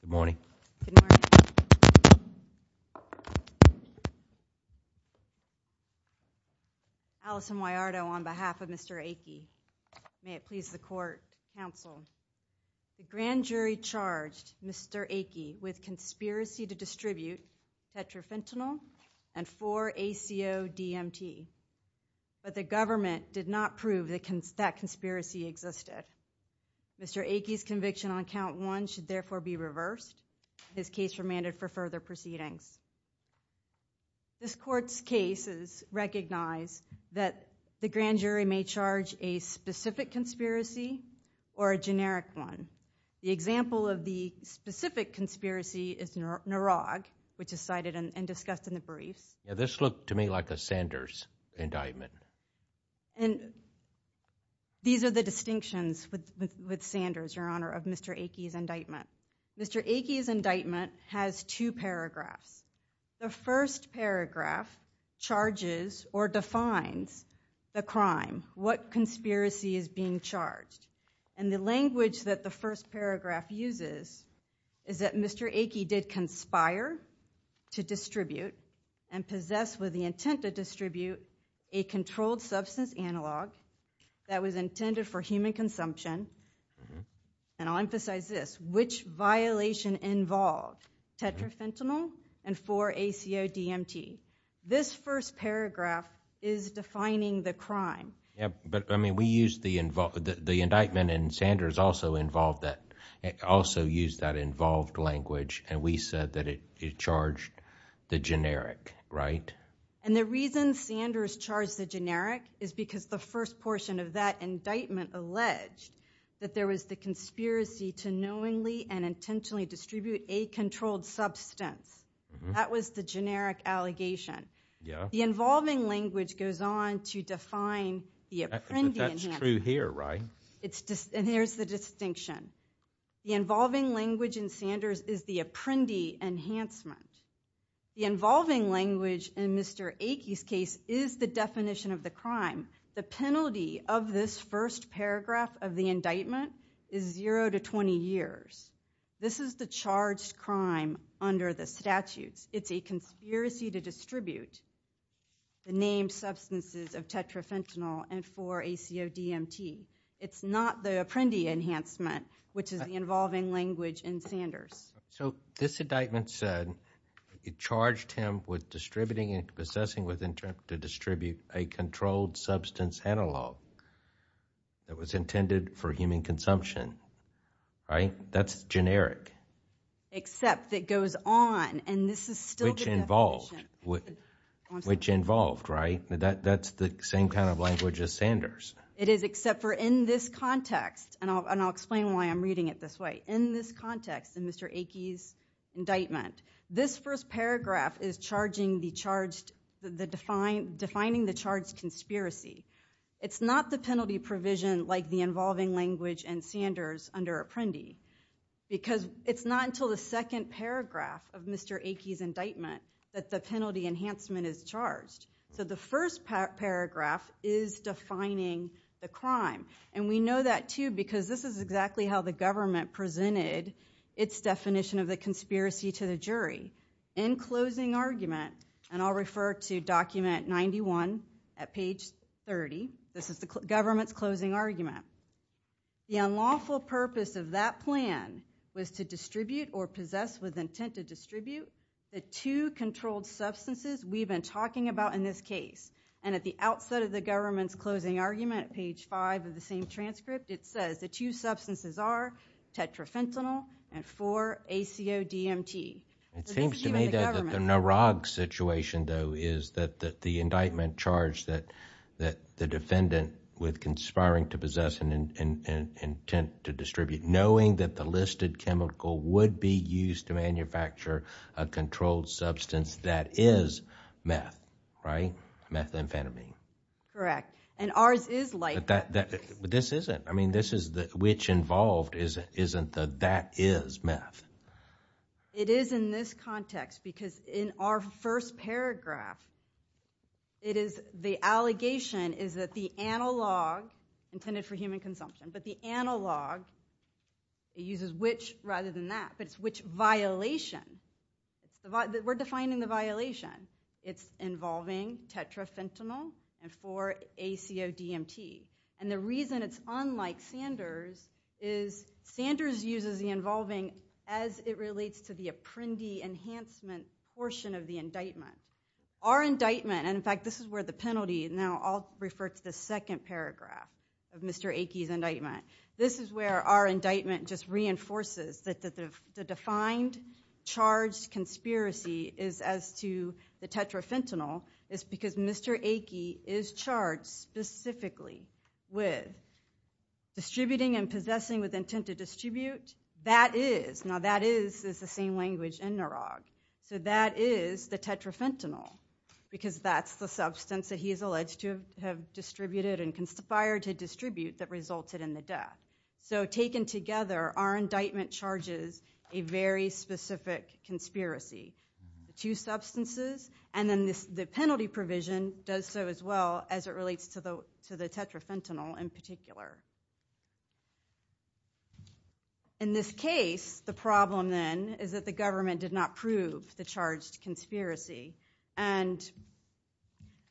Good morning. Allison Wajardo on behalf of Mr. Achey. May it please the court, counsel. The grand jury charged Mr. Achey with conspiracy to distribute tetrafentanyl and 4-ACO-DMT, but the government did not prove that conspiracy existed. Mr. Achey's conviction on count one should therefore be reversed. His case remanded for further proceedings. This court's case is recognized that the grand jury may charge a specific conspiracy or a generic one. The example of the specific conspiracy is Narog, which is cited and discussed in the briefs. This looked to me like a Sanders indictment. And these are the distinctions with Sanders, Your Honor, of Mr. Achey's indictment. Mr. Achey's indictment has two paragraphs. The first paragraph charges or defines the crime, what conspiracy is being charged. And the language that the first paragraph uses is that Mr. Achey did conspire to distribute and possess with the intent to distribute a controlled substance analog that was intended for human consumption. And I'll emphasize this, which violation involved tetrafentanyl and 4-ACO-DMT. This first paragraph is defining the crime. But, I mean, we used the indictment, and Sanders also used that involved language, and we said that it charged the generic, right? And the reason Sanders charged the generic is because the first portion of that indictment alleged that there was the conspiracy to knowingly and intentionally distribute a controlled substance. That was the generic allegation. The involving language goes on to define the apprendee enhancement. But that's true here, right? And here's the distinction. The involving language in Sanders is the apprendee enhancement. The involving language in Mr. Achey's case is the definition of the crime. The penalty of this first paragraph of the indictment is zero to 20 years. This is the charged crime under the statutes. It's a conspiracy to distribute the named substances of tetrafentanyl and 4-ACO-DMT. It's not the apprendee enhancement, which is the involving language in Sanders. So this indictment said it charged him with distributing and possessing with intent to distribute a controlled substance analog that was intended for human consumption, right? That's generic. Except that goes on, and this is still the definition. Which involved, right? That's the same kind of language as Sanders. It is, except for in this context, and I'll explain why I'm reading it this way. In this context, in Mr. Achey's indictment, this first paragraph is defining the charged conspiracy. It's not the penalty provision like the involving language in Sanders under apprendee because it's not until the second paragraph of Mr. Achey's indictment that the penalty enhancement is charged. So the first paragraph is defining the crime, and we know that too because this is exactly how the government presented its definition of the conspiracy to the jury. In closing argument, and I'll refer to document 91 at page 30. This is the government's closing argument. The unlawful purpose of that plan was to distribute or possess with intent to distribute the two controlled substances we've been talking about in this case. And at the outset of the government's closing argument, page five of the same transcript, it says the two substances are tetrafentanyl and four ACODMT. It seems to me that the Narag situation though is that the indictment charged that the defendant with conspiring to possess and intent to distribute, knowing that the listed chemical would be used to manufacture a controlled substance that is meth, right? Methamphetamine. Correct. And ours is like that. But this isn't. I mean, this is which involved isn't the that is meth. It is in this context because in our first paragraph, it is the allegation is that the analog intended for human consumption, but the analog uses which rather than that. But it's which violation. We're defining the violation. It's involving tetrafentanyl and four ACODMT. And the reason it's unlike Sanders is Sanders uses the involving as it relates to the apprendee enhancement portion of the indictment. Our indictment, and in fact, this is where the penalty, now I'll refer to the second paragraph of Mr. Aikie's indictment. This is where our indictment just reinforces that the defined charged conspiracy is as to the tetrafentanyl is because Mr. Aikie is charged specifically with distributing and possessing with intent to distribute. That is, now that is the same language in NAROG. So that is the tetrafentanyl because that's the substance that he is alleged to have distributed and conspired to distribute that resulted in the death. So taken together, our indictment charges a very specific conspiracy. Two substances, and then the penalty provision does so as well as it relates to the tetrafentanyl in particular. In this case, the problem then is that the government did not prove the charged conspiracy, and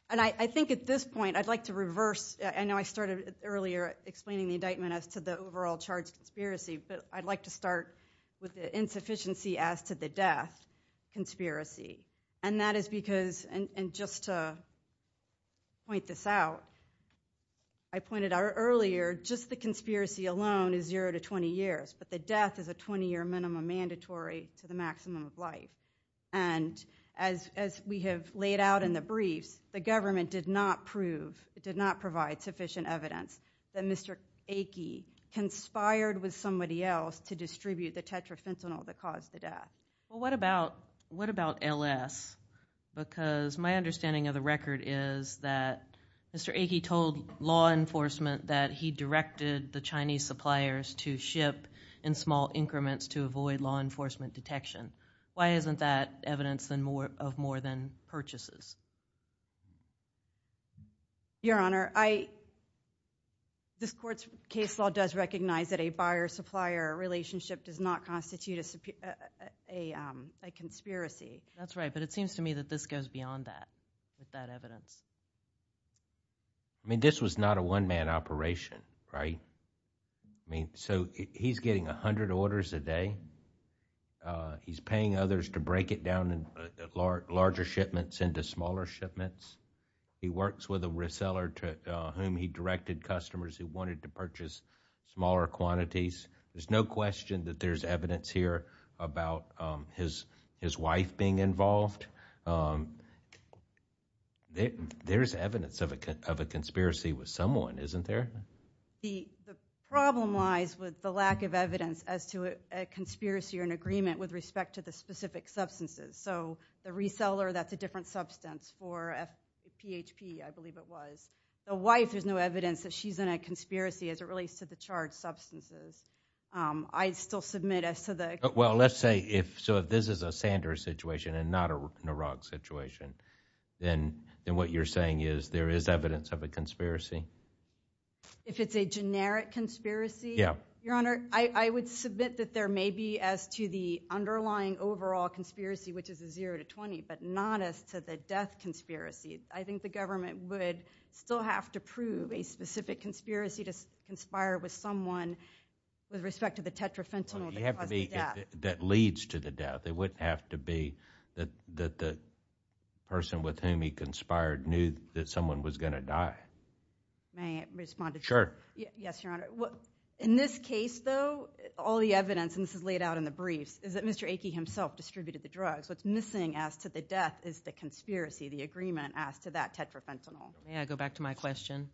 I think at this point I'd like to reverse. I know I started earlier explaining the indictment as to the overall charged conspiracy, but I'd like to start with the insufficiency as to the death conspiracy, and that is because, and just to point this out, I pointed out earlier just the conspiracy alone is zero to 20 years, but the death is a 20-year minimum mandatory to the maximum of life. And as we have laid out in the briefs, the government did not prove, did not provide sufficient evidence that Mr. Aikie conspired with somebody else to distribute the tetrafentanyl that caused the death. Well, what about LS? Because my understanding of the record is that Mr. Aikie told law enforcement that he directed the Chinese suppliers to ship in small increments to avoid law enforcement detection. Why isn't that evidence of more than purchases? Your Honor, this court's case law does recognize that a buyer-supplier relationship does not constitute a conspiracy. That's right, but it seems to me that this goes beyond that, that evidence. I mean, this was not a one-man operation, right? I mean, so he's getting 100 orders a day. He's paying others to break it down in larger shipments into smaller shipments. He works with a reseller to whom he directed customers who wanted to purchase smaller quantities. There's no question that there's evidence here about his wife being involved. There's evidence of a conspiracy with someone, isn't there? The problem lies with the lack of evidence as to a conspiracy or an agreement with respect to the specific substances. So the reseller, that's a different substance for PHP, I believe it was. The wife, there's no evidence that she's in a conspiracy as it relates to the charged substances. I'd still submit as to the... Well, let's say if this is a Sanders situation and not an Iraq situation, then what you're saying is there is evidence of a conspiracy? If it's a generic conspiracy? Yeah. Your Honor, I would submit that there may be as to the underlying overall conspiracy, which is a 0 to 20, but not as to the death conspiracy. I think the government would still have to prove a specific conspiracy to conspire with someone with respect to the tetrafentanyl that caused the death. It wouldn't have to be that leads to the death. It wouldn't have to be that the person with whom he conspired knew that someone was going to die. May I respond to that? Sure. Yes, Your Honor. In this case, though, all the evidence, and this is laid out in the briefs, is that Mr. Aikie himself distributed the drugs. What's missing as to the death is the conspiracy, the agreement as to that tetrafentanyl. May I go back to my question?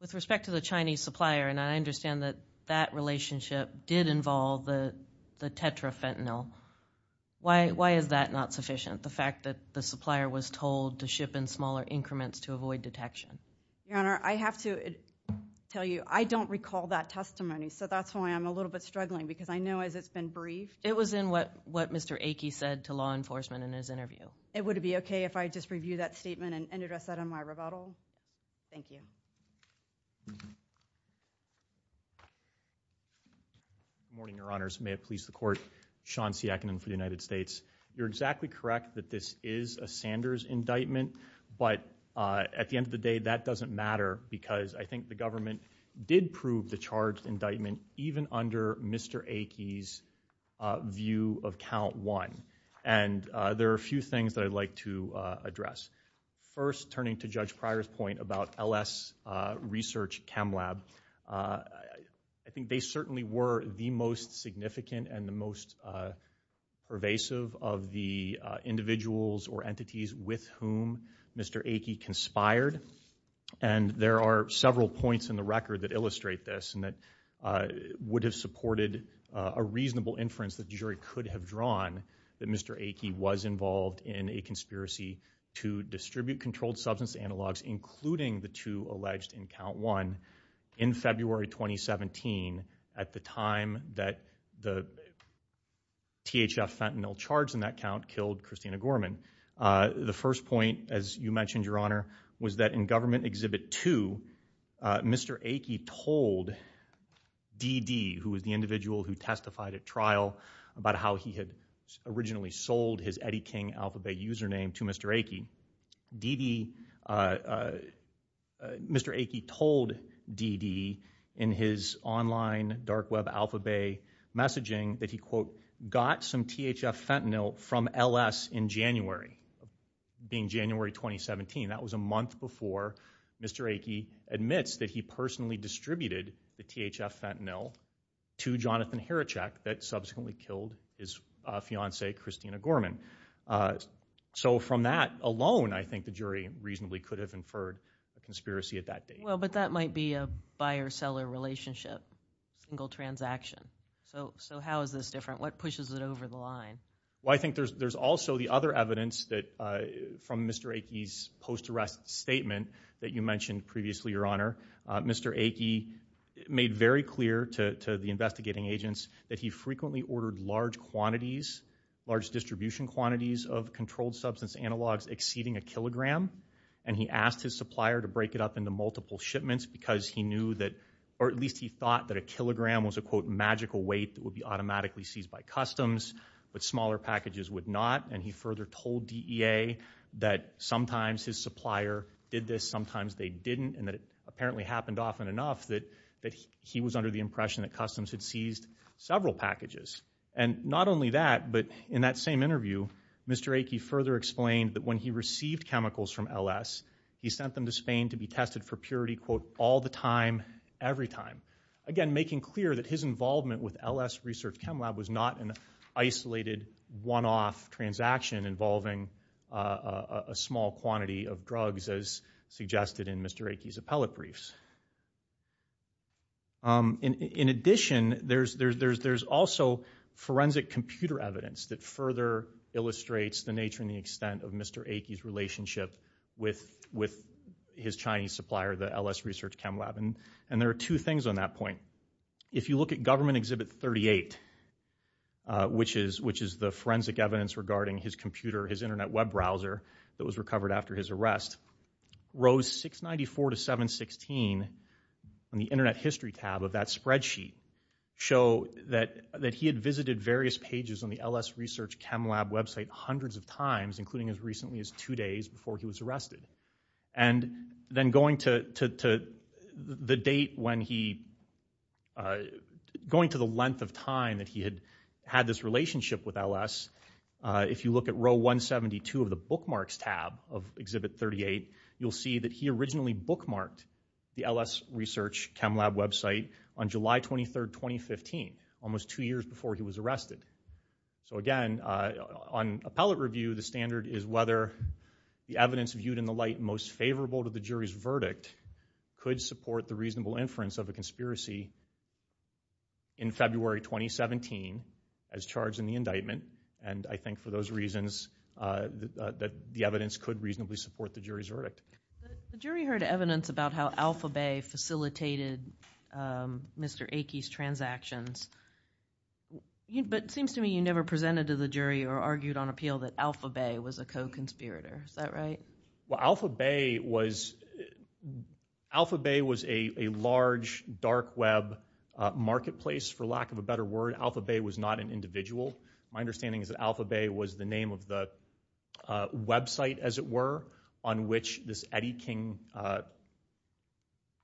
With respect to the Chinese supplier, and I understand that that relationship did involve the tetrafentanyl. Why is that not sufficient, the fact that the supplier was told to ship in smaller increments to avoid detection? Your Honor, I have to tell you I don't recall that testimony, so that's why I'm a little bit struggling because I know as it's been briefed. It was in what Mr. Aikie said to law enforcement in his interview. It would be okay if I just review that statement and address that in my rebuttal? Thank you. Good morning, Your Honors. May it please the Court. Sean Siakinen for the United States. You're exactly correct that this is a Sanders indictment, but at the end of the day, that doesn't matter because I think the government did prove the charged indictment even under Mr. Aikie's view of Count 1, and there are a few things that I'd like to address. First, turning to Judge Pryor's point about LS Research Chem Lab, I think they certainly were the most significant and the most pervasive of the individuals or entities with whom Mr. Aikie conspired, and there are several points in the record that illustrate this and that would have supported a reasonable inference that the jury could have drawn that Mr. Aikie was involved in a conspiracy to distribute controlled substance analogs, including the two alleged in Count 1, in February 2017 at the time that the THF fentanyl charged in that count killed Christina Gorman. The first point, as you mentioned, Your Honor, was that in Government Exhibit 2, Mr. Aikie told DD, who was the individual who testified at trial, about how he had originally sold his Eddie King Alphabet username to Mr. Aikie. DD, Mr. Aikie told DD in his online dark web alphabet messaging that he, quote, got some THF fentanyl from LS in January, being January 2017. That was a month before Mr. Aikie admits that he personally distributed the THF fentanyl to Jonathan Heracek that subsequently killed his fiancee, Christina Gorman. So from that alone, I think the jury reasonably could have inferred a conspiracy at that date. Well, but that might be a buyer-seller relationship, a single transaction. So how is this different? What pushes it over the line? Well, I think there's also the other evidence from Mr. Aikie's post-arrest statement that you mentioned previously, Your Honor. Mr. Aikie made very clear to the investigating agents that he frequently ordered large quantities, large distribution quantities, of controlled substance analogs exceeding a kilogram, and he asked his supplier to break it up into multiple shipments because he knew that, or at least he thought that a kilogram was a, quote, magical weight that would be automatically seized by customs, but smaller packages would not. And he further told DEA that sometimes his supplier did this, sometimes they didn't, and that customs had seized several packages. And not only that, but in that same interview, Mr. Aikie further explained that when he received chemicals from LS, he sent them to Spain to be tested for purity, quote, all the time, every time. Again, making clear that his involvement with LS Research Chem Lab was not an isolated one-off transaction involving a small quantity of drugs as suggested in Mr. Aikie's appellate briefs. In addition, there's also forensic computer evidence that further illustrates the nature and the extent of Mr. Aikie's relationship with his Chinese supplier, the LS Research Chem Lab. And there are two things on that point. If you look at Government Exhibit 38, which is the forensic evidence regarding his computer, his Internet web browser that was recovered after his arrest, rows 694 to 716 on the Internet history tab of that spreadsheet show that he had visited various pages on the LS Research Chem Lab website hundreds of times, including as recently as two days before he was arrested. And then going to the length of time that he had had this relationship with LS, if you look at row 172 of the bookmarks tab of Exhibit 38, you'll see that he originally bookmarked the LS Research Chem Lab website on July 23, 2015, almost two years before he was arrested. So again, on appellate review, the standard is whether the evidence viewed in the light most favorable to the jury's verdict could support the reasonable inference of a conspiracy in February 2017 as charged in the indictment. And I think for those reasons that the evidence could reasonably support the jury's verdict. The jury heard evidence about how AlphaBay facilitated Mr. Aikie's transactions, but it seems to me you never presented to the jury or argued on appeal that AlphaBay was a co-conspirator. Is that right? Well, AlphaBay was a large dark web marketplace, for lack of a better word. AlphaBay was not an individual. My understanding is that AlphaBay was the name of the website, as it were, on which this Eddie King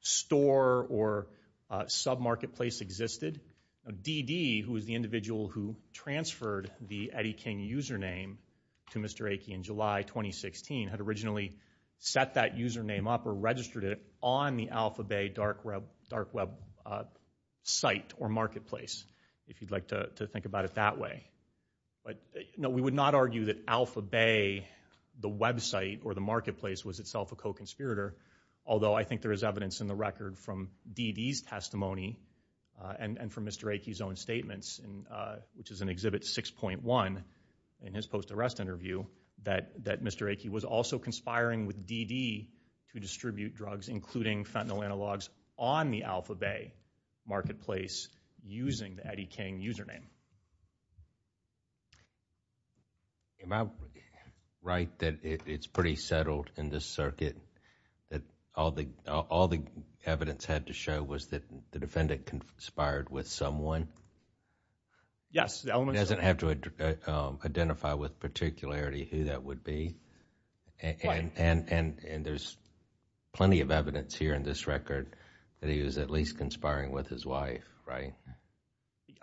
store or sub-marketplace existed. DD, who was the individual who transferred the Eddie King username to Mr. Aikie in July 2016, had originally set that username up or registered it on the AlphaBay dark web site or marketplace, if you'd like to think about it that way. No, we would not argue that AlphaBay, the website or the marketplace, was itself a co-conspirator, although I think there is evidence in the record from DD's testimony and from Mr. Aikie's own statements, which is in Exhibit 6.1 in his post-arrest interview, that Mr. Aikie was also conspiring with DD to distribute drugs, including fentanyl analogs, on the AlphaBay marketplace using the Eddie King username. Am I right that it's pretty settled in this circuit that all the evidence had to show was that the defendant conspired with someone? Yes. He doesn't have to identify with particularity who that would be? Right. And there's plenty of evidence here in this record that he was at least conspiring with his wife, right?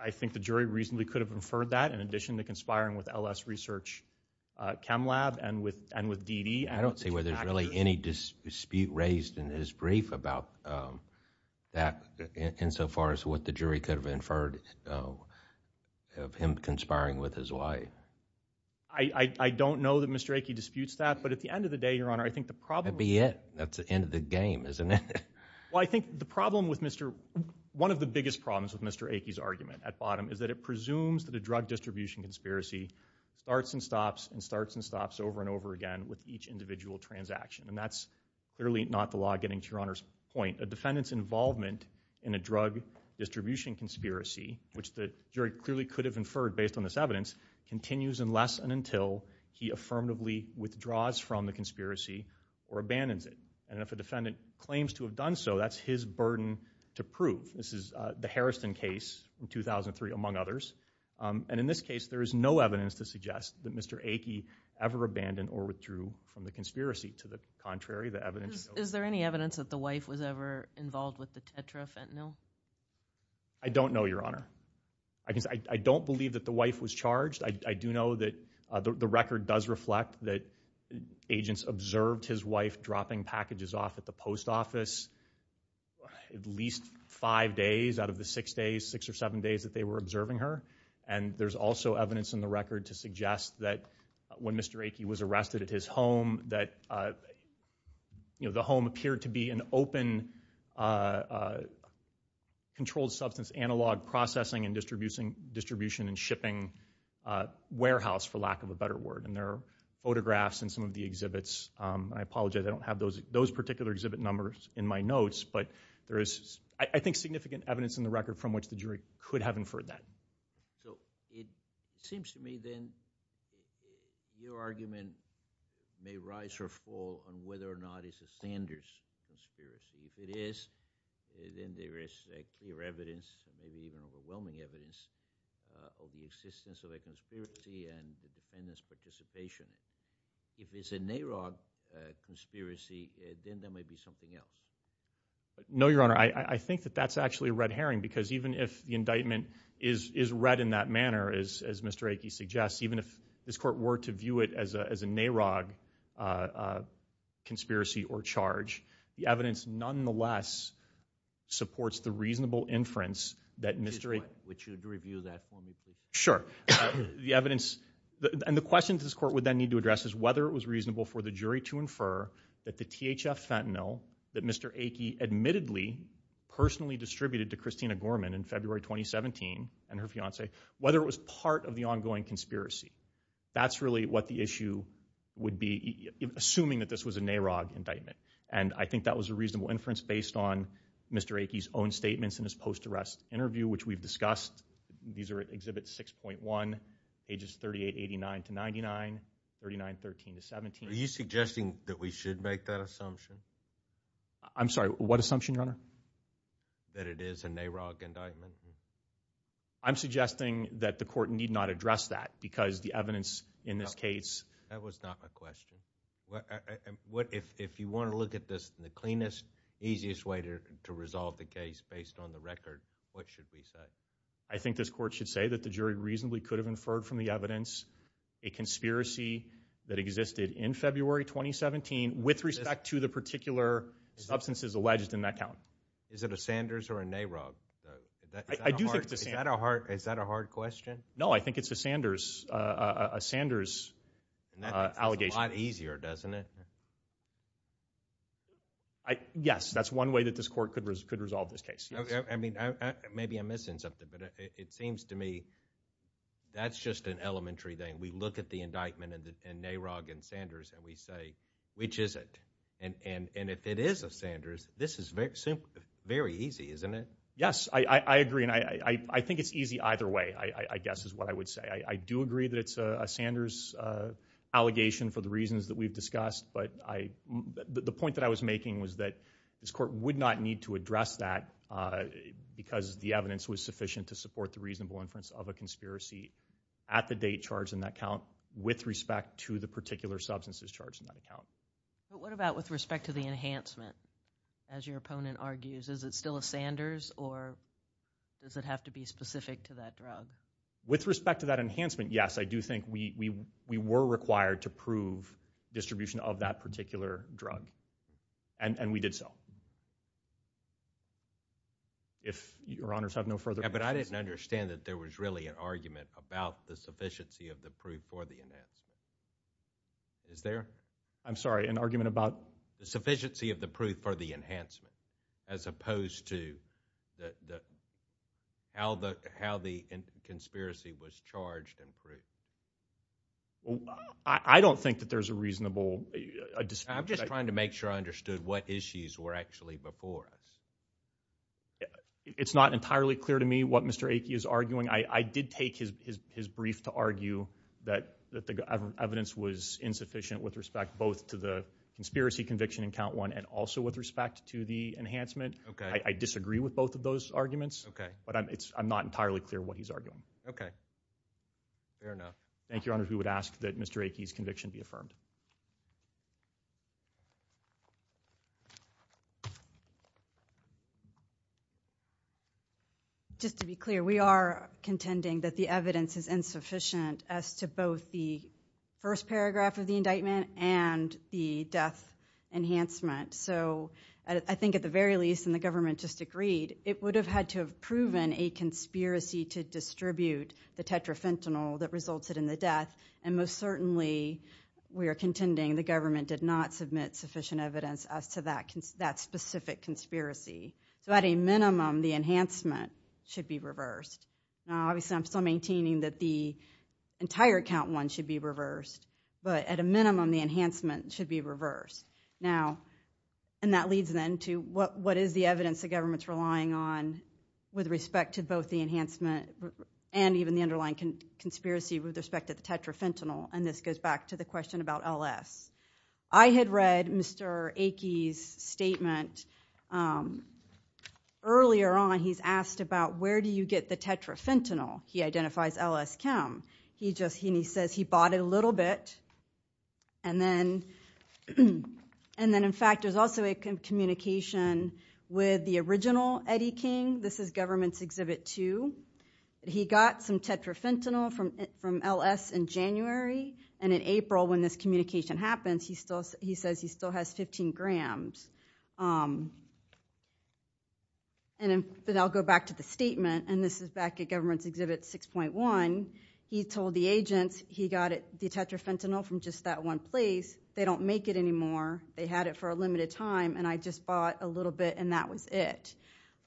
I think the jury reasonably could have inferred that, in addition to conspiring with LS Research Chem Lab and with DD. I don't see where there's really any dispute raised in his brief about that, insofar as what the jury could have inferred of him conspiring with his wife. I don't know that Mr. Aikie disputes that, but at the end of the day, Your Honor, I think the problem— That'd be it. That's the end of the game, isn't it? Well, I think the problem with Mr.— one of the biggest problems with Mr. Aikie's argument at bottom over and over again with each individual transaction. And that's clearly not the law, getting to Your Honor's point. A defendant's involvement in a drug distribution conspiracy, which the jury clearly could have inferred based on this evidence, continues unless and until he affirmatively withdraws from the conspiracy or abandons it. And if a defendant claims to have done so, that's his burden to prove. This is the Harrison case in 2003, among others. And in this case, there is no evidence to suggest that Mr. Aikie ever abandoned or withdrew from the conspiracy. To the contrary, the evidence— Is there any evidence that the wife was ever involved with the tetrafentanyl? I don't know, Your Honor. I don't believe that the wife was charged. I do know that the record does reflect that agents observed his wife dropping packages off at the post office at least five days out of the six days, that they were observing her. And there's also evidence in the record to suggest that when Mr. Aikie was arrested at his home, that the home appeared to be an open controlled substance analog processing and distribution and shipping warehouse, for lack of a better word. And there are photographs in some of the exhibits. I apologize, I don't have those particular exhibit numbers in my notes. But there is, I think, significant evidence in the record from which the jury could have inferred that. So it seems to me then your argument may rise or fall on whether or not it's a Sanders conspiracy. If it is, then there is clear evidence, maybe even overwhelming evidence, of the existence of a conspiracy and the defendant's participation. If it's a NAROG conspiracy, then there may be something else. No, Your Honor, I think that that's actually a red herring, because even if the indictment is read in that manner, as Mr. Aikie suggests, even if this court were to view it as a NAROG conspiracy or charge, the evidence nonetheless supports the reasonable inference that Mr. Aikie Would you review that for me, please? Sure. The evidence, and the questions this court would then need to address is whether it was reasonable for the jury to infer that the THF fentanyl that Mr. Aikie admittedly personally distributed to Christina Gorman in February 2017, and her fiance, whether it was part of the ongoing conspiracy. That's really what the issue would be, assuming that this was a NAROG indictment. And I think that was a reasonable inference based on Mr. Aikie's own statements in his post-arrest interview, which we've discussed. These are Exhibit 6.1, ages 38, 89 to 99, 39, 13 to 17. Are you suggesting that we should make that assumption? I'm sorry, what assumption, Your Honor? That it is a NAROG indictment. I'm suggesting that the court need not address that, because the evidence in this case That was not my question. If you want to look at this in the cleanest, easiest way to resolve the case based on the record, what should we say? I think this court should say that the jury reasonably could have inferred from the evidence a conspiracy that existed in February 2017 with respect to the particular substances alleged in that count. Is it a Sanders or a NAROG? Is that a hard question? No, I think it's a Sanders allegation. That makes it a lot easier, doesn't it? Yes, that's one way that this court could resolve this case. Maybe I'm missing something, but it seems to me that's just an elementary thing. We look at the indictment and NAROG and Sanders and we say, which is it? And if it is a Sanders, this is very easy, isn't it? Yes, I agree, and I think it's easy either way, I guess is what I would say. I do agree that it's a Sanders allegation for the reasons that we've discussed, but the point that I was making was that this court would not need to address that because the evidence was sufficient to support the reasonable inference of a conspiracy at the date charged in that count with respect to the particular substances charged in that count. But what about with respect to the enhancement? As your opponent argues, is it still a Sanders or does it have to be specific to that drug? With respect to that enhancement, yes, I do think we were required to prove distribution of that particular drug, and we did so. If your honors have no further questions. But I didn't understand that there was really an argument about the sufficiency of the proof for the enhancement. Is there? I'm sorry, an argument about? The sufficiency of the proof for the enhancement as opposed to how the conspiracy was charged and proved. I don't think that there's a reasonable dispute. I'm just trying to make sure I understood what issues were actually before us. It's not entirely clear to me what Mr. Akey is arguing. I did take his brief to argue that the evidence was insufficient with respect both to the conspiracy conviction in count one and also with respect to the enhancement. OK. I disagree with both of those arguments. OK. But I'm not entirely clear what he's arguing. OK. Fair enough. Thank you, Your Honor. Who would ask that Mr. Akey's conviction be affirmed? Just to be clear, we are contending that the evidence is insufficient as to both the first paragraph of the indictment and the death enhancement. So I think at the very least, and the government just agreed, it would have had to have proven a conspiracy to distribute the tetrafentanyl that resulted in the death. And most certainly, we are contending the government did not submit sufficient evidence as to that specific conspiracy. So at a minimum, the enhancement should be reversed. Now, obviously, I'm still maintaining that the entire count one should be reversed. But at a minimum, the enhancement should be reversed. Now, and that leads then to what is the evidence the government's relying on with respect to both the enhancement and even the underlying conspiracy with respect to the tetrafentanyl? And this goes back to the question about LS. I had read Mr. Akey's statement earlier on. He's asked about where do you get the tetrafentanyl? He identifies LS chem. He says he bought it a little bit. And then, in fact, there's also a communication with the original Eddie King. This is Government's Exhibit 2. He got some tetrafentanyl from LS in January. And in April, when this communication happens, he says he still has 15 grams. And then I'll go back to the statement. And this is back at Government's Exhibit 6.1. He told the agents he got the tetrafentanyl from just that one place. They don't make it anymore. They had it for a limited time. And I just bought a little bit, and that was it.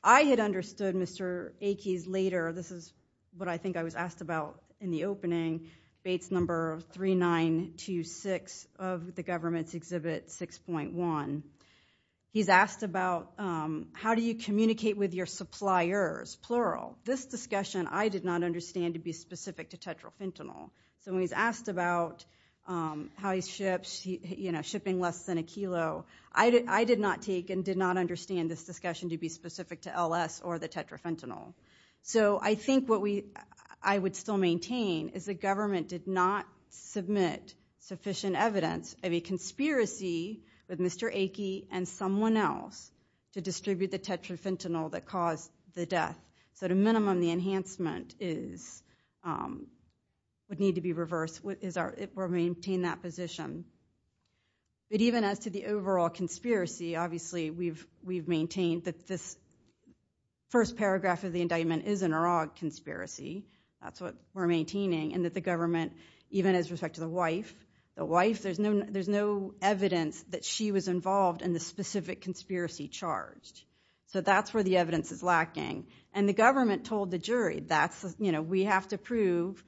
I had understood Mr. Akey's later. This is what I think I was asked about in the opening. Bates number 3926 of the Government's Exhibit 6.1. He's asked about how do you communicate with your suppliers, plural. This discussion I did not understand to be specific to tetrafentanyl. So when he's asked about how he ships, you know, shipping less than a kilo, I did not take and did not understand this discussion to be specific to LS or the tetrafentanyl. So I think what I would still maintain is the Government did not submit sufficient evidence of a conspiracy with Mr. Akey and someone else to distribute the tetrafentanyl that caused the death. So at a minimum, the enhancement would need to be reversed. We'll maintain that position. But even as to the overall conspiracy, obviously we've maintained that this first paragraph of the indictment is an Arag conspiracy. That's what we're maintaining, and that the Government, even as respect to the wife, the wife, there's no evidence that she was involved in the specific conspiracy charged. So that's where the evidence is lacking. And the Government told the jury, you know, we have to prove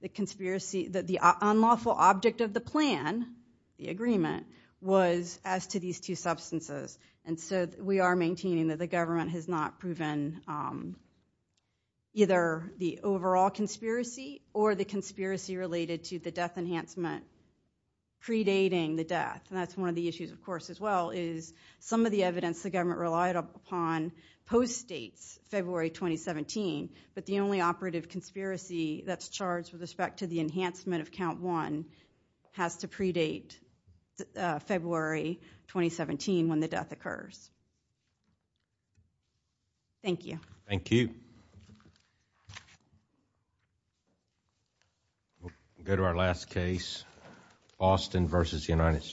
the conspiracy, that the unlawful object of the plan, the agreement, was as to these two substances. And so we are maintaining that the Government has not proven either the overall conspiracy or the conspiracy related to the death enhancement predating the death. And that's one of the issues, of course, as well, is some of the evidence the Government relied upon post-dates February 2017, but the only operative conspiracy that's charged with respect to the enhancement of Count 1 has to predate February 2017 when the death occurs. Thank you. Thank you. We'll go to our last case, Austin v. United States.